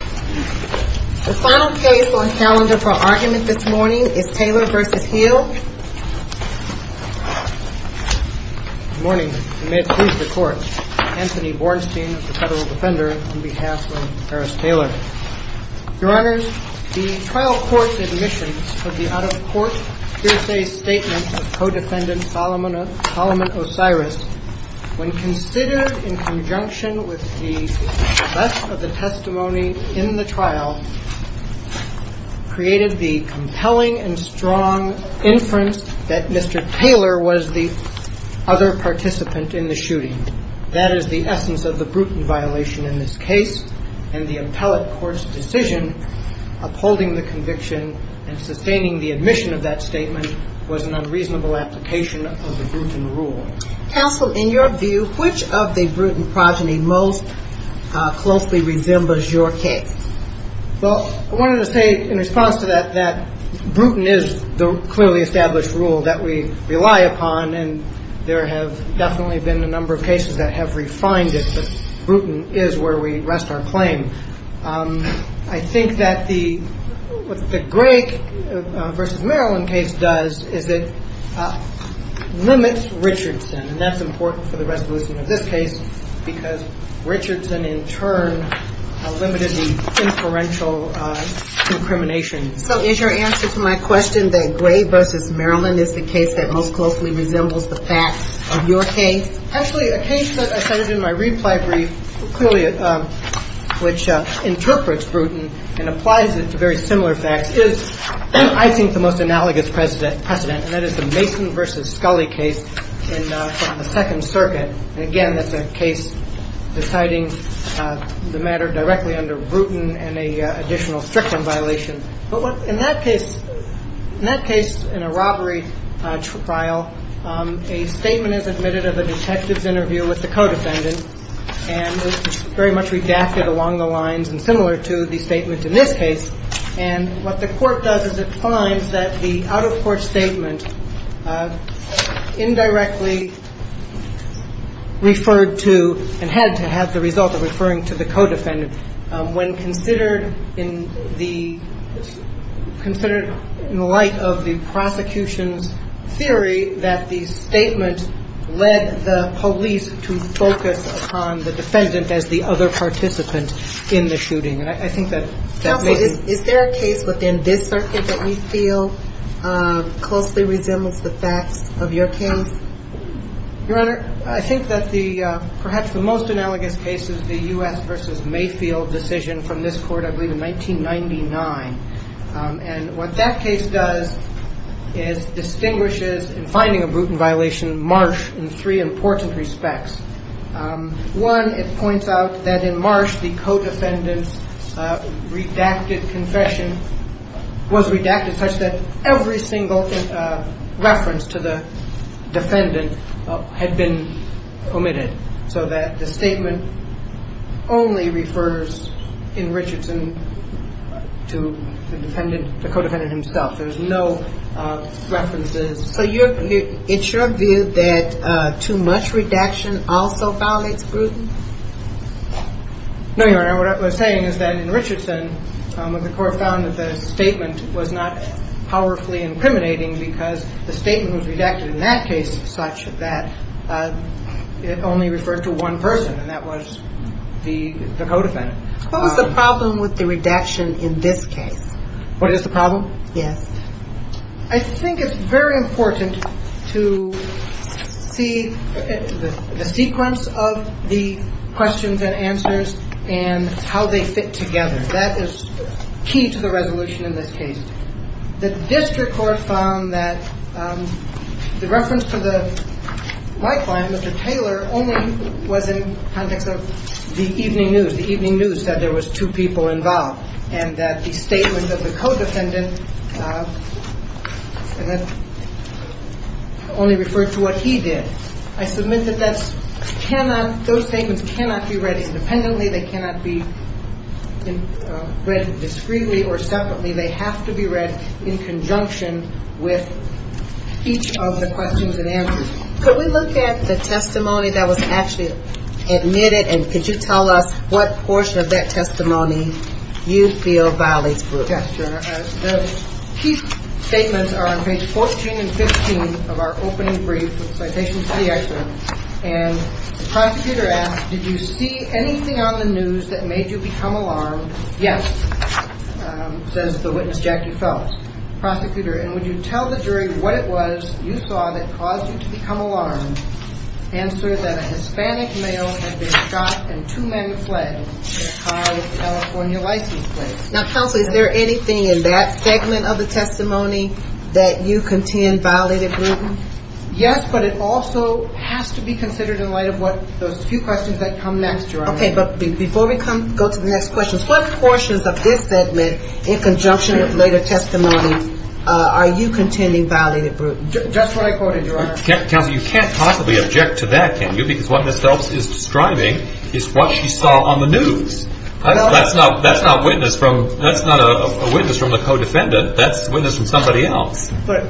The trial court's admissions of the out-of-court hearsay statement of Codefendant Solomon Osiris when considered in conjunction with the rest of the testimony in the trial created the compelling and strong inference that Mr. Taylor was the other participant in the shooting. That is the essence of the Bruton violation in this case, and the appellate court's decision upholding the conviction and sustaining the admission of that statement was an unreasonable application of the Bruton rule. Counsel, in your view, which of the Bruton progeny most closely resembles your case? Well, I wanted to say in response to that that Bruton is the clearly established rule that we rely upon, and there have definitely been a number of cases that have refined it, but Bruton is where we rest our claim. I think that the – what the Gray v. Maryland case does is it limits Richardson, and that's important for the resolution of this case because Richardson, in turn, limited the inferential incrimination. So is your answer to my question that Gray v. Maryland is the case that most closely resembles the facts of your case? Actually, a case that I cited in my reply brief clearly – which interprets Bruton and applies it to very similar facts is, I think, the most analogous precedent, and that is the Mason v. Scully case in the Second Circuit. And, again, that's a case deciding the matter directly under Bruton and an additional Strickland violation. But in that case – in that case, in a robbery trial, a statement is admitted of a detective's interview with the co-defendant, and it's very much redacted along the lines and similar to the statement in this case. And what the court does is it finds that the out-of-court statement indirectly referred to and had to have the result of referring to the co-defendant when considered in the – considered in the light of the prosecution's theory that the statement led the police to focus upon the defendant as the other participant in the shooting. And I think that – Counsel, is there a case within this circuit that we feel closely resembles the facts of your case? Your Honor, I think that the – perhaps the most analogous case is the U.S. v. Mayfield decision from this court, I believe, in 1999. And what that case does is distinguishes, in finding a Bruton violation, Marsh in three important respects. One, it points out that in Marsh, the co-defendant's redacted confession was redacted in such that every single reference to the defendant had been omitted, so that the statement only refers in Richardson to the defendant – the co-defendant himself. There's no references. So it's your view that too much redaction also violates Bruton? No, Your Honor. What I was saying is that in Richardson, the court found that the statement was not powerfully incriminating because the statement was redacted in that case such that it only referred to one person, and that was the co-defendant. What was the problem with the redaction in this case? What is the problem? Yes. I think it's very important to see the sequence of the questions and answers and how they fit together. That is key to the resolution in this case. The district court found that the reference to the white line, Mr. Taylor, only was in context of the evening news. The evening news said there was two people involved and that the statement of the co-defendant only referred to what he did. I submit that those statements cannot be read independently. They cannot be read discreetly or separately. They have to be read in conjunction with each of the questions and answers. Could we look at the testimony that was actually admitted, and could you tell us what portion of that testimony you feel violates proof? Yes, Your Honor. The key statements are on page 14 and 15 of our opening brief with citations to the excerpt. And the prosecutor asks, did you see anything on the news that made you become alarmed? Yes, says the witness, Jackie Phelps. Prosecutor, and would you tell the jury what it was you saw that caused you to become alarmed? Answer, that a Hispanic male had been shot and two men fled in a car with a California license plate. Now, counsel, is there anything in that segment of the testimony that you contend violated proof? Yes, but it also has to be considered in light of what those few questions that come next, Your Honor. Okay, but before we go to the next questions, what portions of this segment, in conjunction with later testimony, are you contending violated proof? Just what I quoted, Your Honor. Counsel, you can't possibly object to that, can you? Because what Ms. Phelps is describing is what she saw on the news. That's not a witness from the co-defendant. That's a witness from somebody else. But,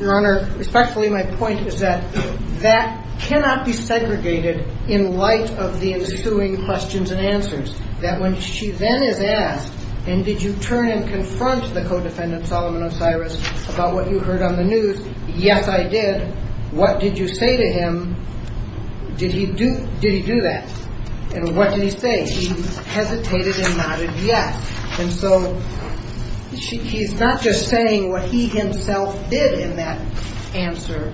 Your Honor, respectfully, my point is that that cannot be segregated in light of the ensuing questions and answers. That when she then is asked, and did you turn and confront the co-defendant, Solomon Osiris, about what you heard on the news, yes, I did, what did you say to him? Did he do that? And what did he say? He hesitated and nodded yes. And so he's not just saying what he himself did in that answer,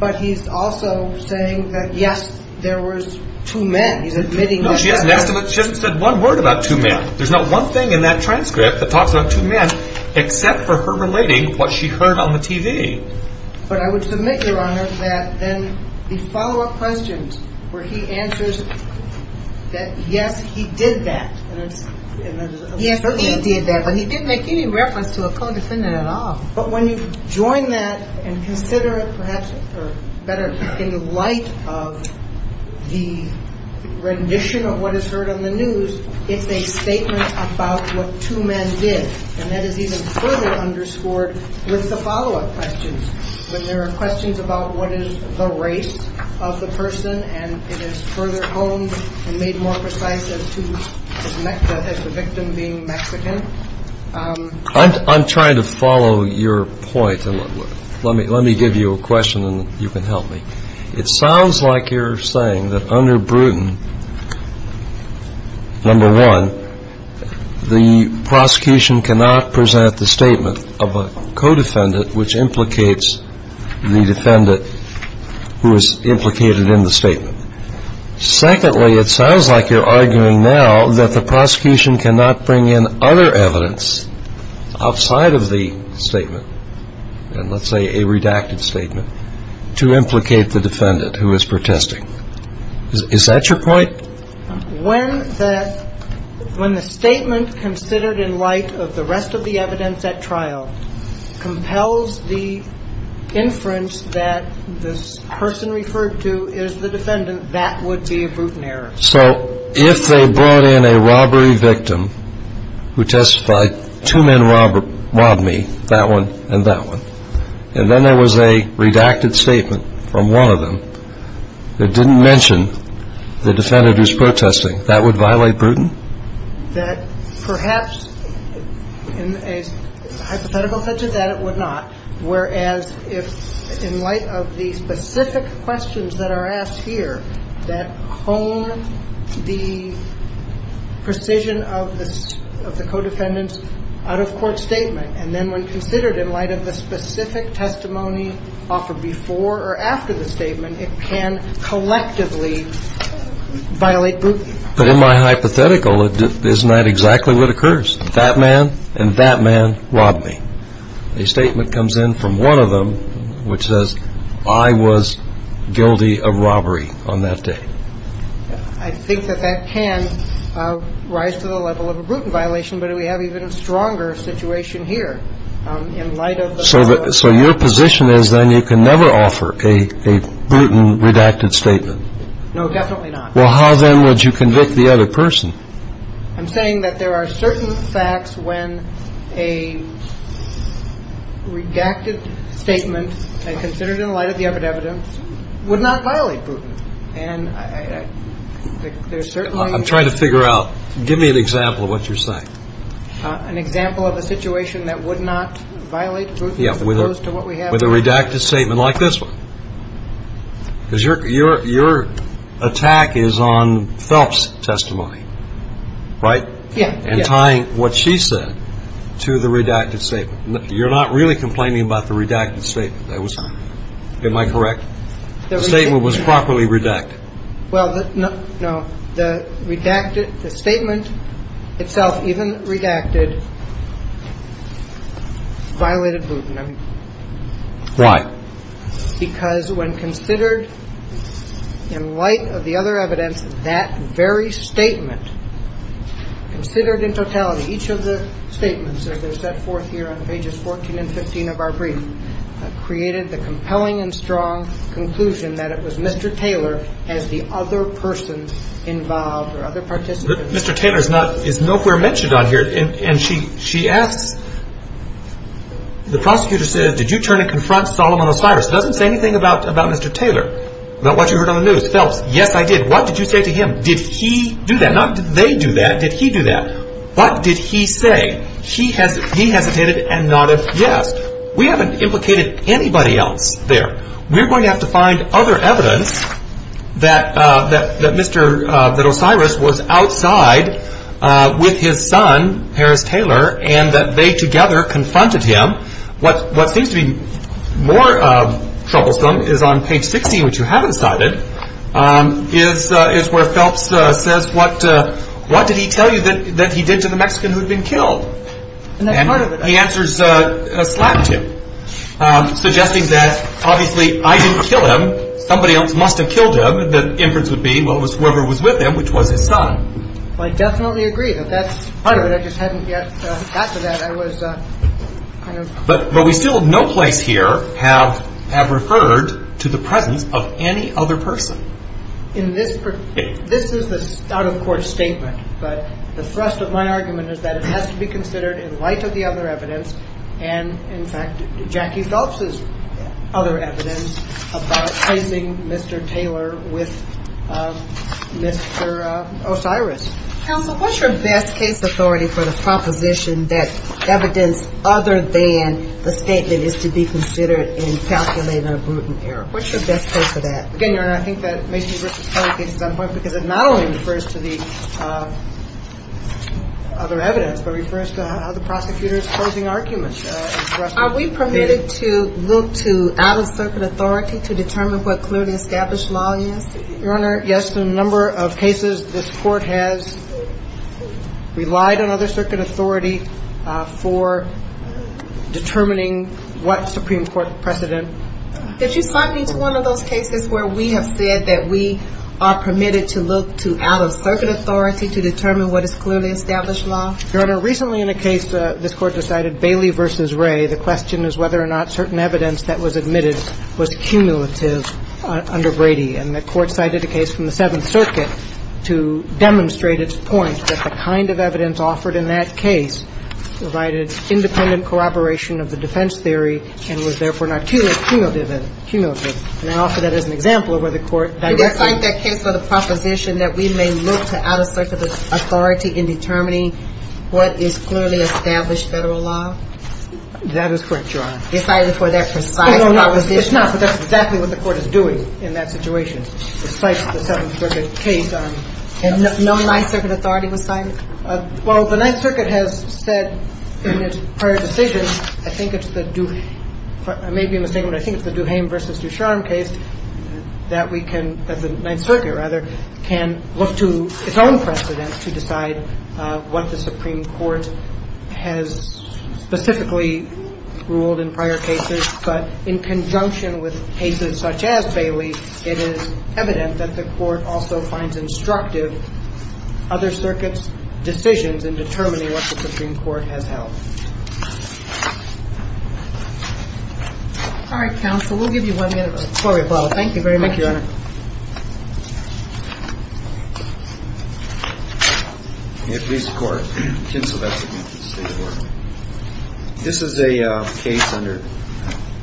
but he's also saying that, yes, there was two men. He's admitting that. No, she hasn't said one word about two men. There's not one thing in that transcript that talks about two men except for her relating what she heard on the TV. But I would submit, Your Honor, that then the follow-up questions where he answers that, yes, he did that, but he didn't make any reference to a co-defendant at all. But when you join that and consider it perhaps better in the light of the rendition of what is heard on the news, it's a statement about what two men did. And that is even further underscored with the follow-up questions when there are questions about what is the race of the person and it is further honed and made more precise as to the victim being Mexican. I'm trying to follow your point. Let me give you a question and you can help me. It sounds like you're saying that under Bruton, number one, the prosecution cannot present the statement of a co-defendant which implicates the defendant who is implicated in the statement. Secondly, it sounds like you're arguing now that the prosecution cannot bring in other evidence outside of the statement, and let's say a redacted statement, to implicate the defendant who is protesting. Is that your point? When the statement considered in light of the rest of the evidence at trial compels the inference that this person referred to is the defendant, that would be a Bruton error. So if they brought in a robbery victim who testified, two men robbed me, that one and that one, and then there was a redacted statement from one of them that didn't mention the defendant who is protesting, that would violate Bruton? That perhaps in a hypothetical sense of that, it would not, whereas if in light of the specific questions that are asked here that hone the precision of the co-defendant's out-of-court statement, and then when considered in light of the specific testimony offered before or after the statement, it can collectively violate Bruton. But in my hypothetical, isn't that exactly what occurs? That man and that man robbed me. A statement comes in from one of them which says, I was guilty of robbery on that day. I think that that can rise to the level of a Bruton violation, but we have even a stronger situation here. In light of the... So your position is then you can never offer a Bruton redacted statement? No, definitely not. Well, how then would you convict the other person? I'm saying that there are certain facts when a redacted statement and considered in light of the evidence would not violate Bruton. And there's certainly... I'm trying to figure out. Give me an example of what you're saying. An example of a situation that would not violate Bruton as opposed to what we have... Yeah, with a redacted statement like this one. Because your attack is on Phelps' testimony, right? Yeah. And tying what she said to the redacted statement. You're not really complaining about the redacted statement. Am I correct? The statement was properly redacted. Well, no. The statement itself, even redacted, violated Bruton. Why? Because when considered in light of the other evidence, that very statement, considered in totality, each of the statements, as they're set forth here on pages 14 and 15 of our brief, created the compelling and strong conclusion that it was Mr. Taylor as the other person involved or other participant. But Mr. Taylor is not, is nowhere mentioned on here. And she asks, the prosecutor says, did you turn and confront Solomon Osiris? It doesn't say anything about Mr. Taylor, about what you heard on the news. Phelps, yes, I did. What did you say to him? Did he do that? Not did they do that. Did he do that? What did he say? He hesitated and nodded yes. We haven't implicated anybody else there. We're going to have to find other evidence that Mr. Osiris was outside with his son, Harris Taylor, and that they together confronted him. What seems to be more troublesome is on page 60, which you haven't cited, is where Phelps says, what did he tell you that he did to the Mexican who had been killed? And he answers, slapped him, suggesting that, obviously, I didn't kill him. Somebody else must have killed him. The inference would be, well, it was whoever was with him, which was his son. I definitely agree that that's part of it. I just hadn't yet gotten to that. But we still in no place here have referred to the presence of any other person. This is an out-of-court statement, but the thrust of my argument is that it has to be considered in light of the other evidence and, in fact, Jackie Phelps' other evidence about facing Mr. Taylor with Mr. Osiris. Counsel, what's your best case authority for the proposition that evidence other than the statement is to be considered in calculating a brutal error? What's your best case for that? Again, Your Honor, I think that makes Mr. Taylor's case stand apart because it not only refers to the other evidence, but refers to how the prosecutor is posing arguments. Are we permitted to look to out-of-circuit authority to determine what clearly established law is? Your Honor, yes. In a number of cases, this Court has relied on other circuit authority for determining what Supreme Court precedent. Did you cite me to one of those cases where we have said that we are permitted to look to out-of-circuit authority to determine what is clearly established law? Your Honor, recently in a case this Court decided, Bailey v. Ray, the question is whether or not certain evidence that was admitted was cumulative under Brady. And the Court cited a case from the Seventh Circuit to demonstrate its point that the kind of evidence offered in that case provided independent corroboration of the defense theory and was, therefore, not cumulative in it. Cumulative. And I offer that as an example of where the Court directly used it. Did it cite that case for the proposition that we may look to out-of-circuit authority in determining what is clearly established Federal law? That is correct, Your Honor. Decided for that precise proposition. It's not, but that's exactly what the Court is doing in that situation. It cites the Seventh Circuit case. And no Ninth Circuit authority was cited? Well, the Ninth Circuit has said in its prior decisions, I think it's the Duhame – I may be mistaken, but I think it's the Duhame v. Ducharme case that we can – that the Ninth Circuit, rather, can look to its own precedent to decide what the Supreme And it's not that the Ninth Circuit has ruled in prior cases, but in conjunction with cases such as Bailey, it is evident that the Court also finds instructive other circuits' decisions in determining what the Supreme Court has held. All right, counsel. We'll give you one minute of a story bottle. Thank you very much. Thank you, Your Honor. May it please the Court. Kinsella Bexington for the State of Oregon. This is a case under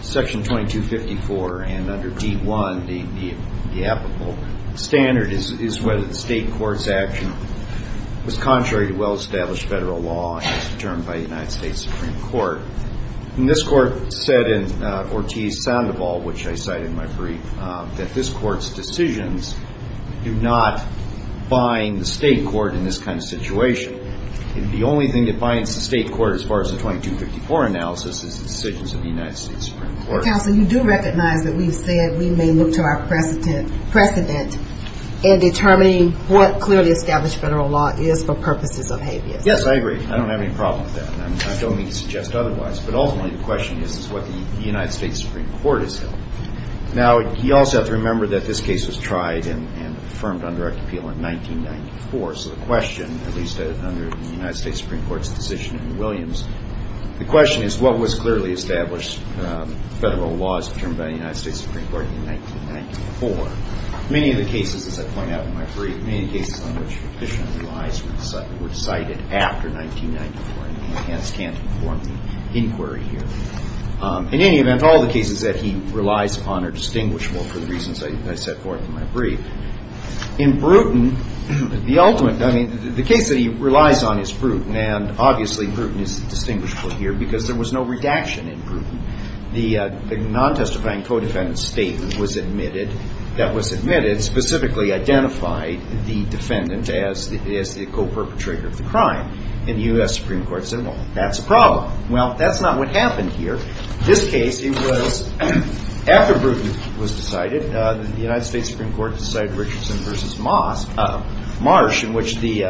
Section 2254 and under D-1. The applicable standard is whether the State court's action was contrary to well-established Federal law as determined by the United States Supreme Court. And this Court said in Ortiz-Sandoval, which I cite in my brief, that this Court's decisions do not bind the State court in this kind of situation. The only thing that binds the State court as far as the 2254 analysis is the decisions of the United States Supreme Court. Counsel, you do recognize that we've said we may look to our precedent in determining what clearly established Federal law is for purposes of habeas. Yes, I agree. I don't have any problem with that. I don't mean to suggest otherwise. But ultimately, the question is what the United States Supreme Court has held. Now, you also have to remember that this case was tried and affirmed under our appeal in 1994. So the question, at least under the United States Supreme Court's decision in Williams, the question is what was clearly established Federal law as determined by the United States Supreme Court in 1994. Many of the cases, as I point out in my brief, many of the cases on which the petitioner relies were cited after 1994, and we hence can't inform the inquiry here. In any event, all the cases that he relies upon are distinguishable for the reasons I set forth in my brief. In Bruton, the case that he relies on is Bruton, and obviously Bruton is distinguishable here because there was no redaction in Bruton. The non-testifying co-defendant statement that was admitted specifically identified the defendant as the co-perpetrator of the crime. And the U.S. Supreme Court said, well, that's a problem. Well, that's not what happened here. This case, it was after Bruton was decided, the United States Supreme Court decided Richardson v. Marsh, in which the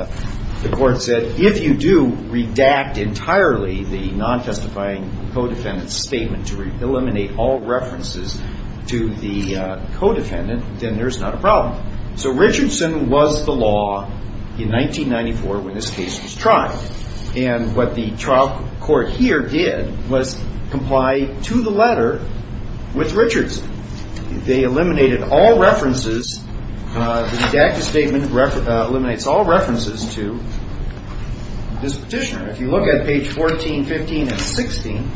court said, if you do redact entirely the non-testifying co-defendant statement to eliminate all references to the co-defendant, then there's not a problem. So Richardson was the law in 1994 when this case was tried. And what the trial court here did was comply to the letter with Richardson. They eliminated all references. The redacted statement eliminates all references to this petitioner. If you look at page 14, 15, and 16,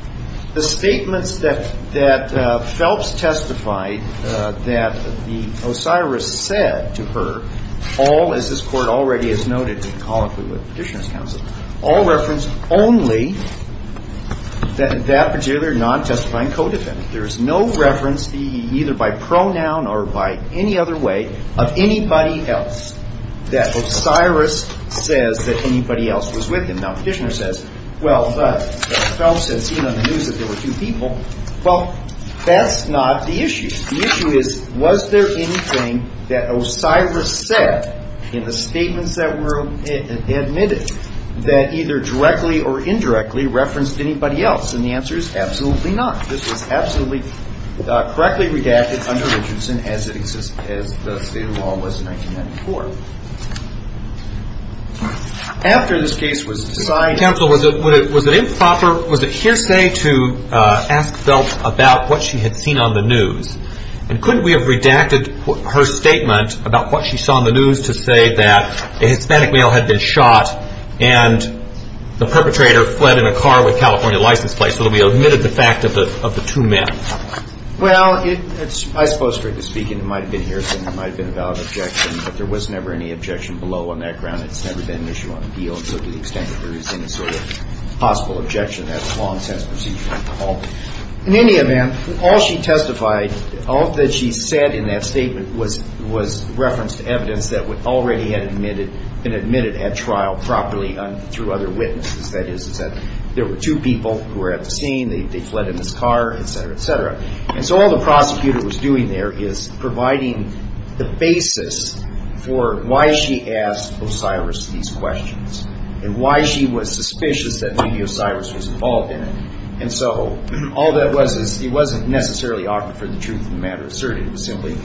the statements that Phelps testified that the Osiris said to her, all, as this Court already has noted in colloquy with Petitioner's counsel, all referenced only that particular non-testifying co-defendant. There is no reference, either by pronoun or by any other way, of anybody else that Osiris says that anybody else was with him. Now, Petitioner says, well, but Phelps had seen on the news that there were two people. Well, that's not the issue. The issue is, was there anything that Osiris said in the statements that were admitted that either directly or indirectly referenced anybody else? And the answer is absolutely not. This was absolutely correctly redacted under Richardson as it existed, as the State of the Law was in 1994. After this case was decided. Mr. Counsel, was it improper, was it hearsay to ask Phelps about what she had seen on the news? And couldn't we have redacted her statement about what she saw on the news to say that a Hispanic male had been shot and the perpetrator fled in a car with a California license plate so that we admitted the fact of the two men? Well, I suppose, strictly speaking, it might have been hearsay and it might have been a valid objection, but there was never any objection below on that ground. It's never been an issue on the deal, so to the extent that there is any sort of possible objection, that's a long-term procedure. In any event, all she testified, all that she said in that statement was referenced evidence that already had been admitted at trial properly through other witnesses. That is, there were two people who were at the scene, they fled in this car, et cetera, et cetera. And so all the prosecutor was doing there is providing the basis for why she asked Osiris these questions and why she was suspicious that maybe Osiris was involved in it. And so all that was is it wasn't necessarily offered for the truth of the matter asserted. It was simply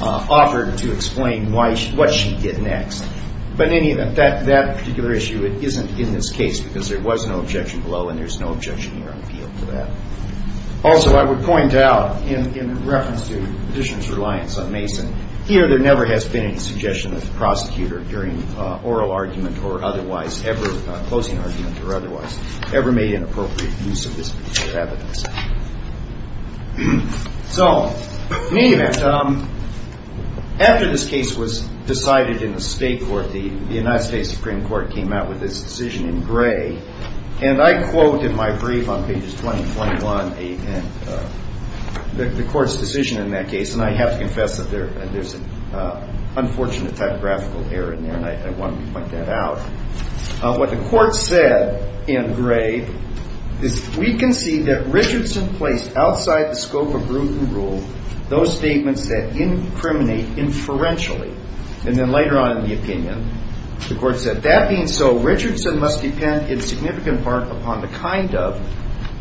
offered to explain what she did next. But in any event, that particular issue isn't in this case because there was no objection below and there's no objection here on the deal for that. Also, I would point out, in reference to the petitioner's reliance on Mason, here there never has been any suggestion of the prosecutor during oral argument or otherwise ever, closing argument or otherwise, ever made an appropriate use of this particular evidence. So, in any event, after this case was decided in the state court, the United States Supreme Court came out with this decision in gray. And I quote in my brief on pages 20 and 21 the court's decision in that case, and I have to confess that there's an unfortunate typographical error in there and I wanted to point that out. What the court said in gray is, we can see that Richardson placed outside the scope of rule those statements that incriminate inferentially. And then later on in the opinion, the court said, that being so, Richardson must depend in significant part upon the kind of,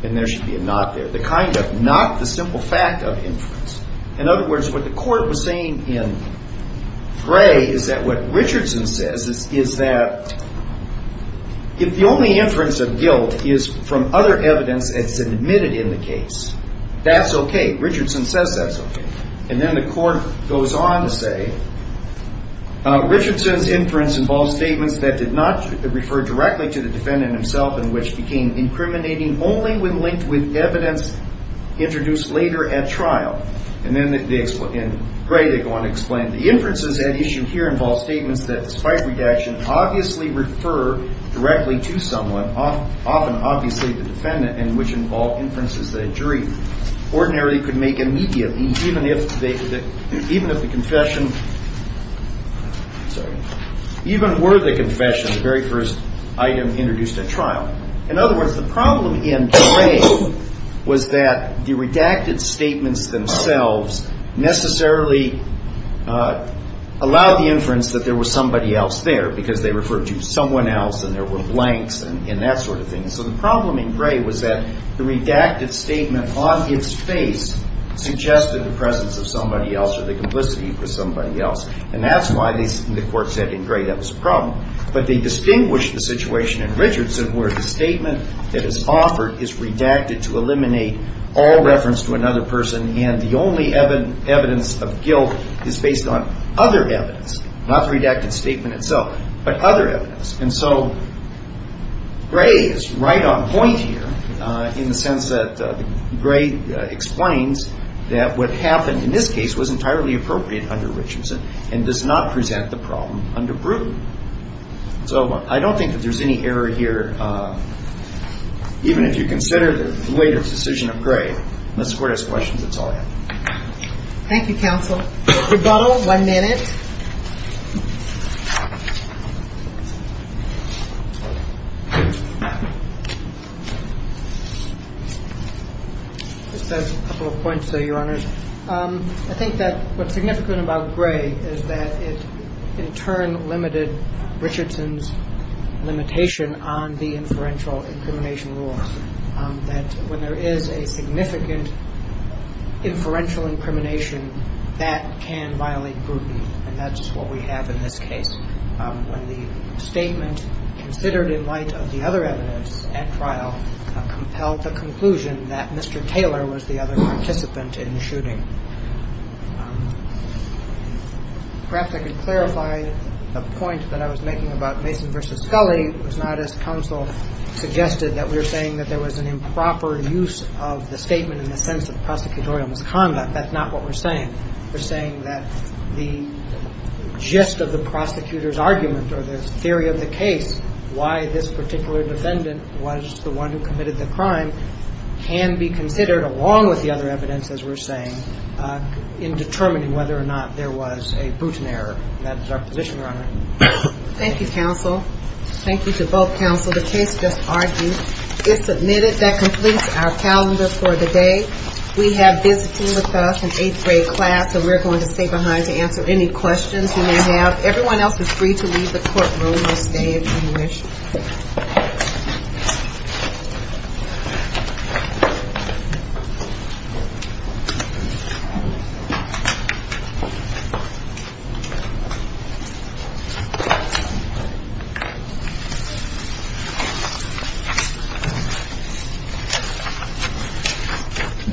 and there should be a not there, the kind of, not the simple fact of inference. In other words, what the court was saying in gray is that what Richardson says is that if the only inference of guilt is from other evidence that's admitted in the case, that's okay. Richardson says that's okay. And then the court goes on to say, Richardson's inference involves statements that did not refer directly to the defendant himself and which became incriminating only when linked with evidence introduced later at trial. And then in gray they go on to explain, the inferences at issue here involve statements that despite redaction obviously refer directly to someone, often obviously the defendant and which involve inferences that a jury ordinarily could make immediately even if the confession, sorry, even were the confession the very first item introduced at trial. In other words, the problem in gray was that the redacted statements themselves necessarily allowed the inference that there was somebody else there because they referred to someone else and there were blanks and that sort of thing. So the problem in gray was that the redacted statement on its face suggested the presence of somebody else or the complicity for somebody else. And that's why the court said in gray that was a problem. But they distinguished the situation in Richardson where the statement that is offered is redacted to eliminate all reference to another person and the only evidence of guilt is based on other evidence, not the redacted statement itself, but other evidence. And so gray is right on point here in the sense that gray explains that what happened in this case was entirely appropriate under Richardson and does not present the problem So I don't think that there's any error here. Even if you consider the weight of the decision of gray, unless the court has questions, that's all I have. Thank you, counsel. Rebuttal, one minute. Just a couple of points there, Your Honors. I think that what's significant about gray is that it in turn limited Richardson's limitation on the inferential incrimination rule, that when there is a significant inferential incrimination, that can violate scrutiny. And that's what we have in this case. When the statement considered in light of the other evidence at trial compelled the conclusion that Mr. Taylor was the other participant in the shooting. Perhaps I could clarify a point that I was making about Mason v. Scully. It's not as counsel suggested that we're saying that there was an improper use of the statement in the sense of prosecutorial misconduct. That's not what we're saying. We're saying that the gist of the prosecutor's argument or the theory of the case, why this particular defendant was the one who committed the crime, can be considered, along with the other evidence, as we're saying, in determining whether or not there was a Bruton error. And that is our position, Your Honor. Thank you, counsel. Thank you to both counsel. The case just argued. It's submitted. That completes our calendar for the day. We have visiting with us, an eighth grade class, and we're going to stay behind to answer any questions you may have. Everyone else is free to leave the courtroom. We'll stay if you wish.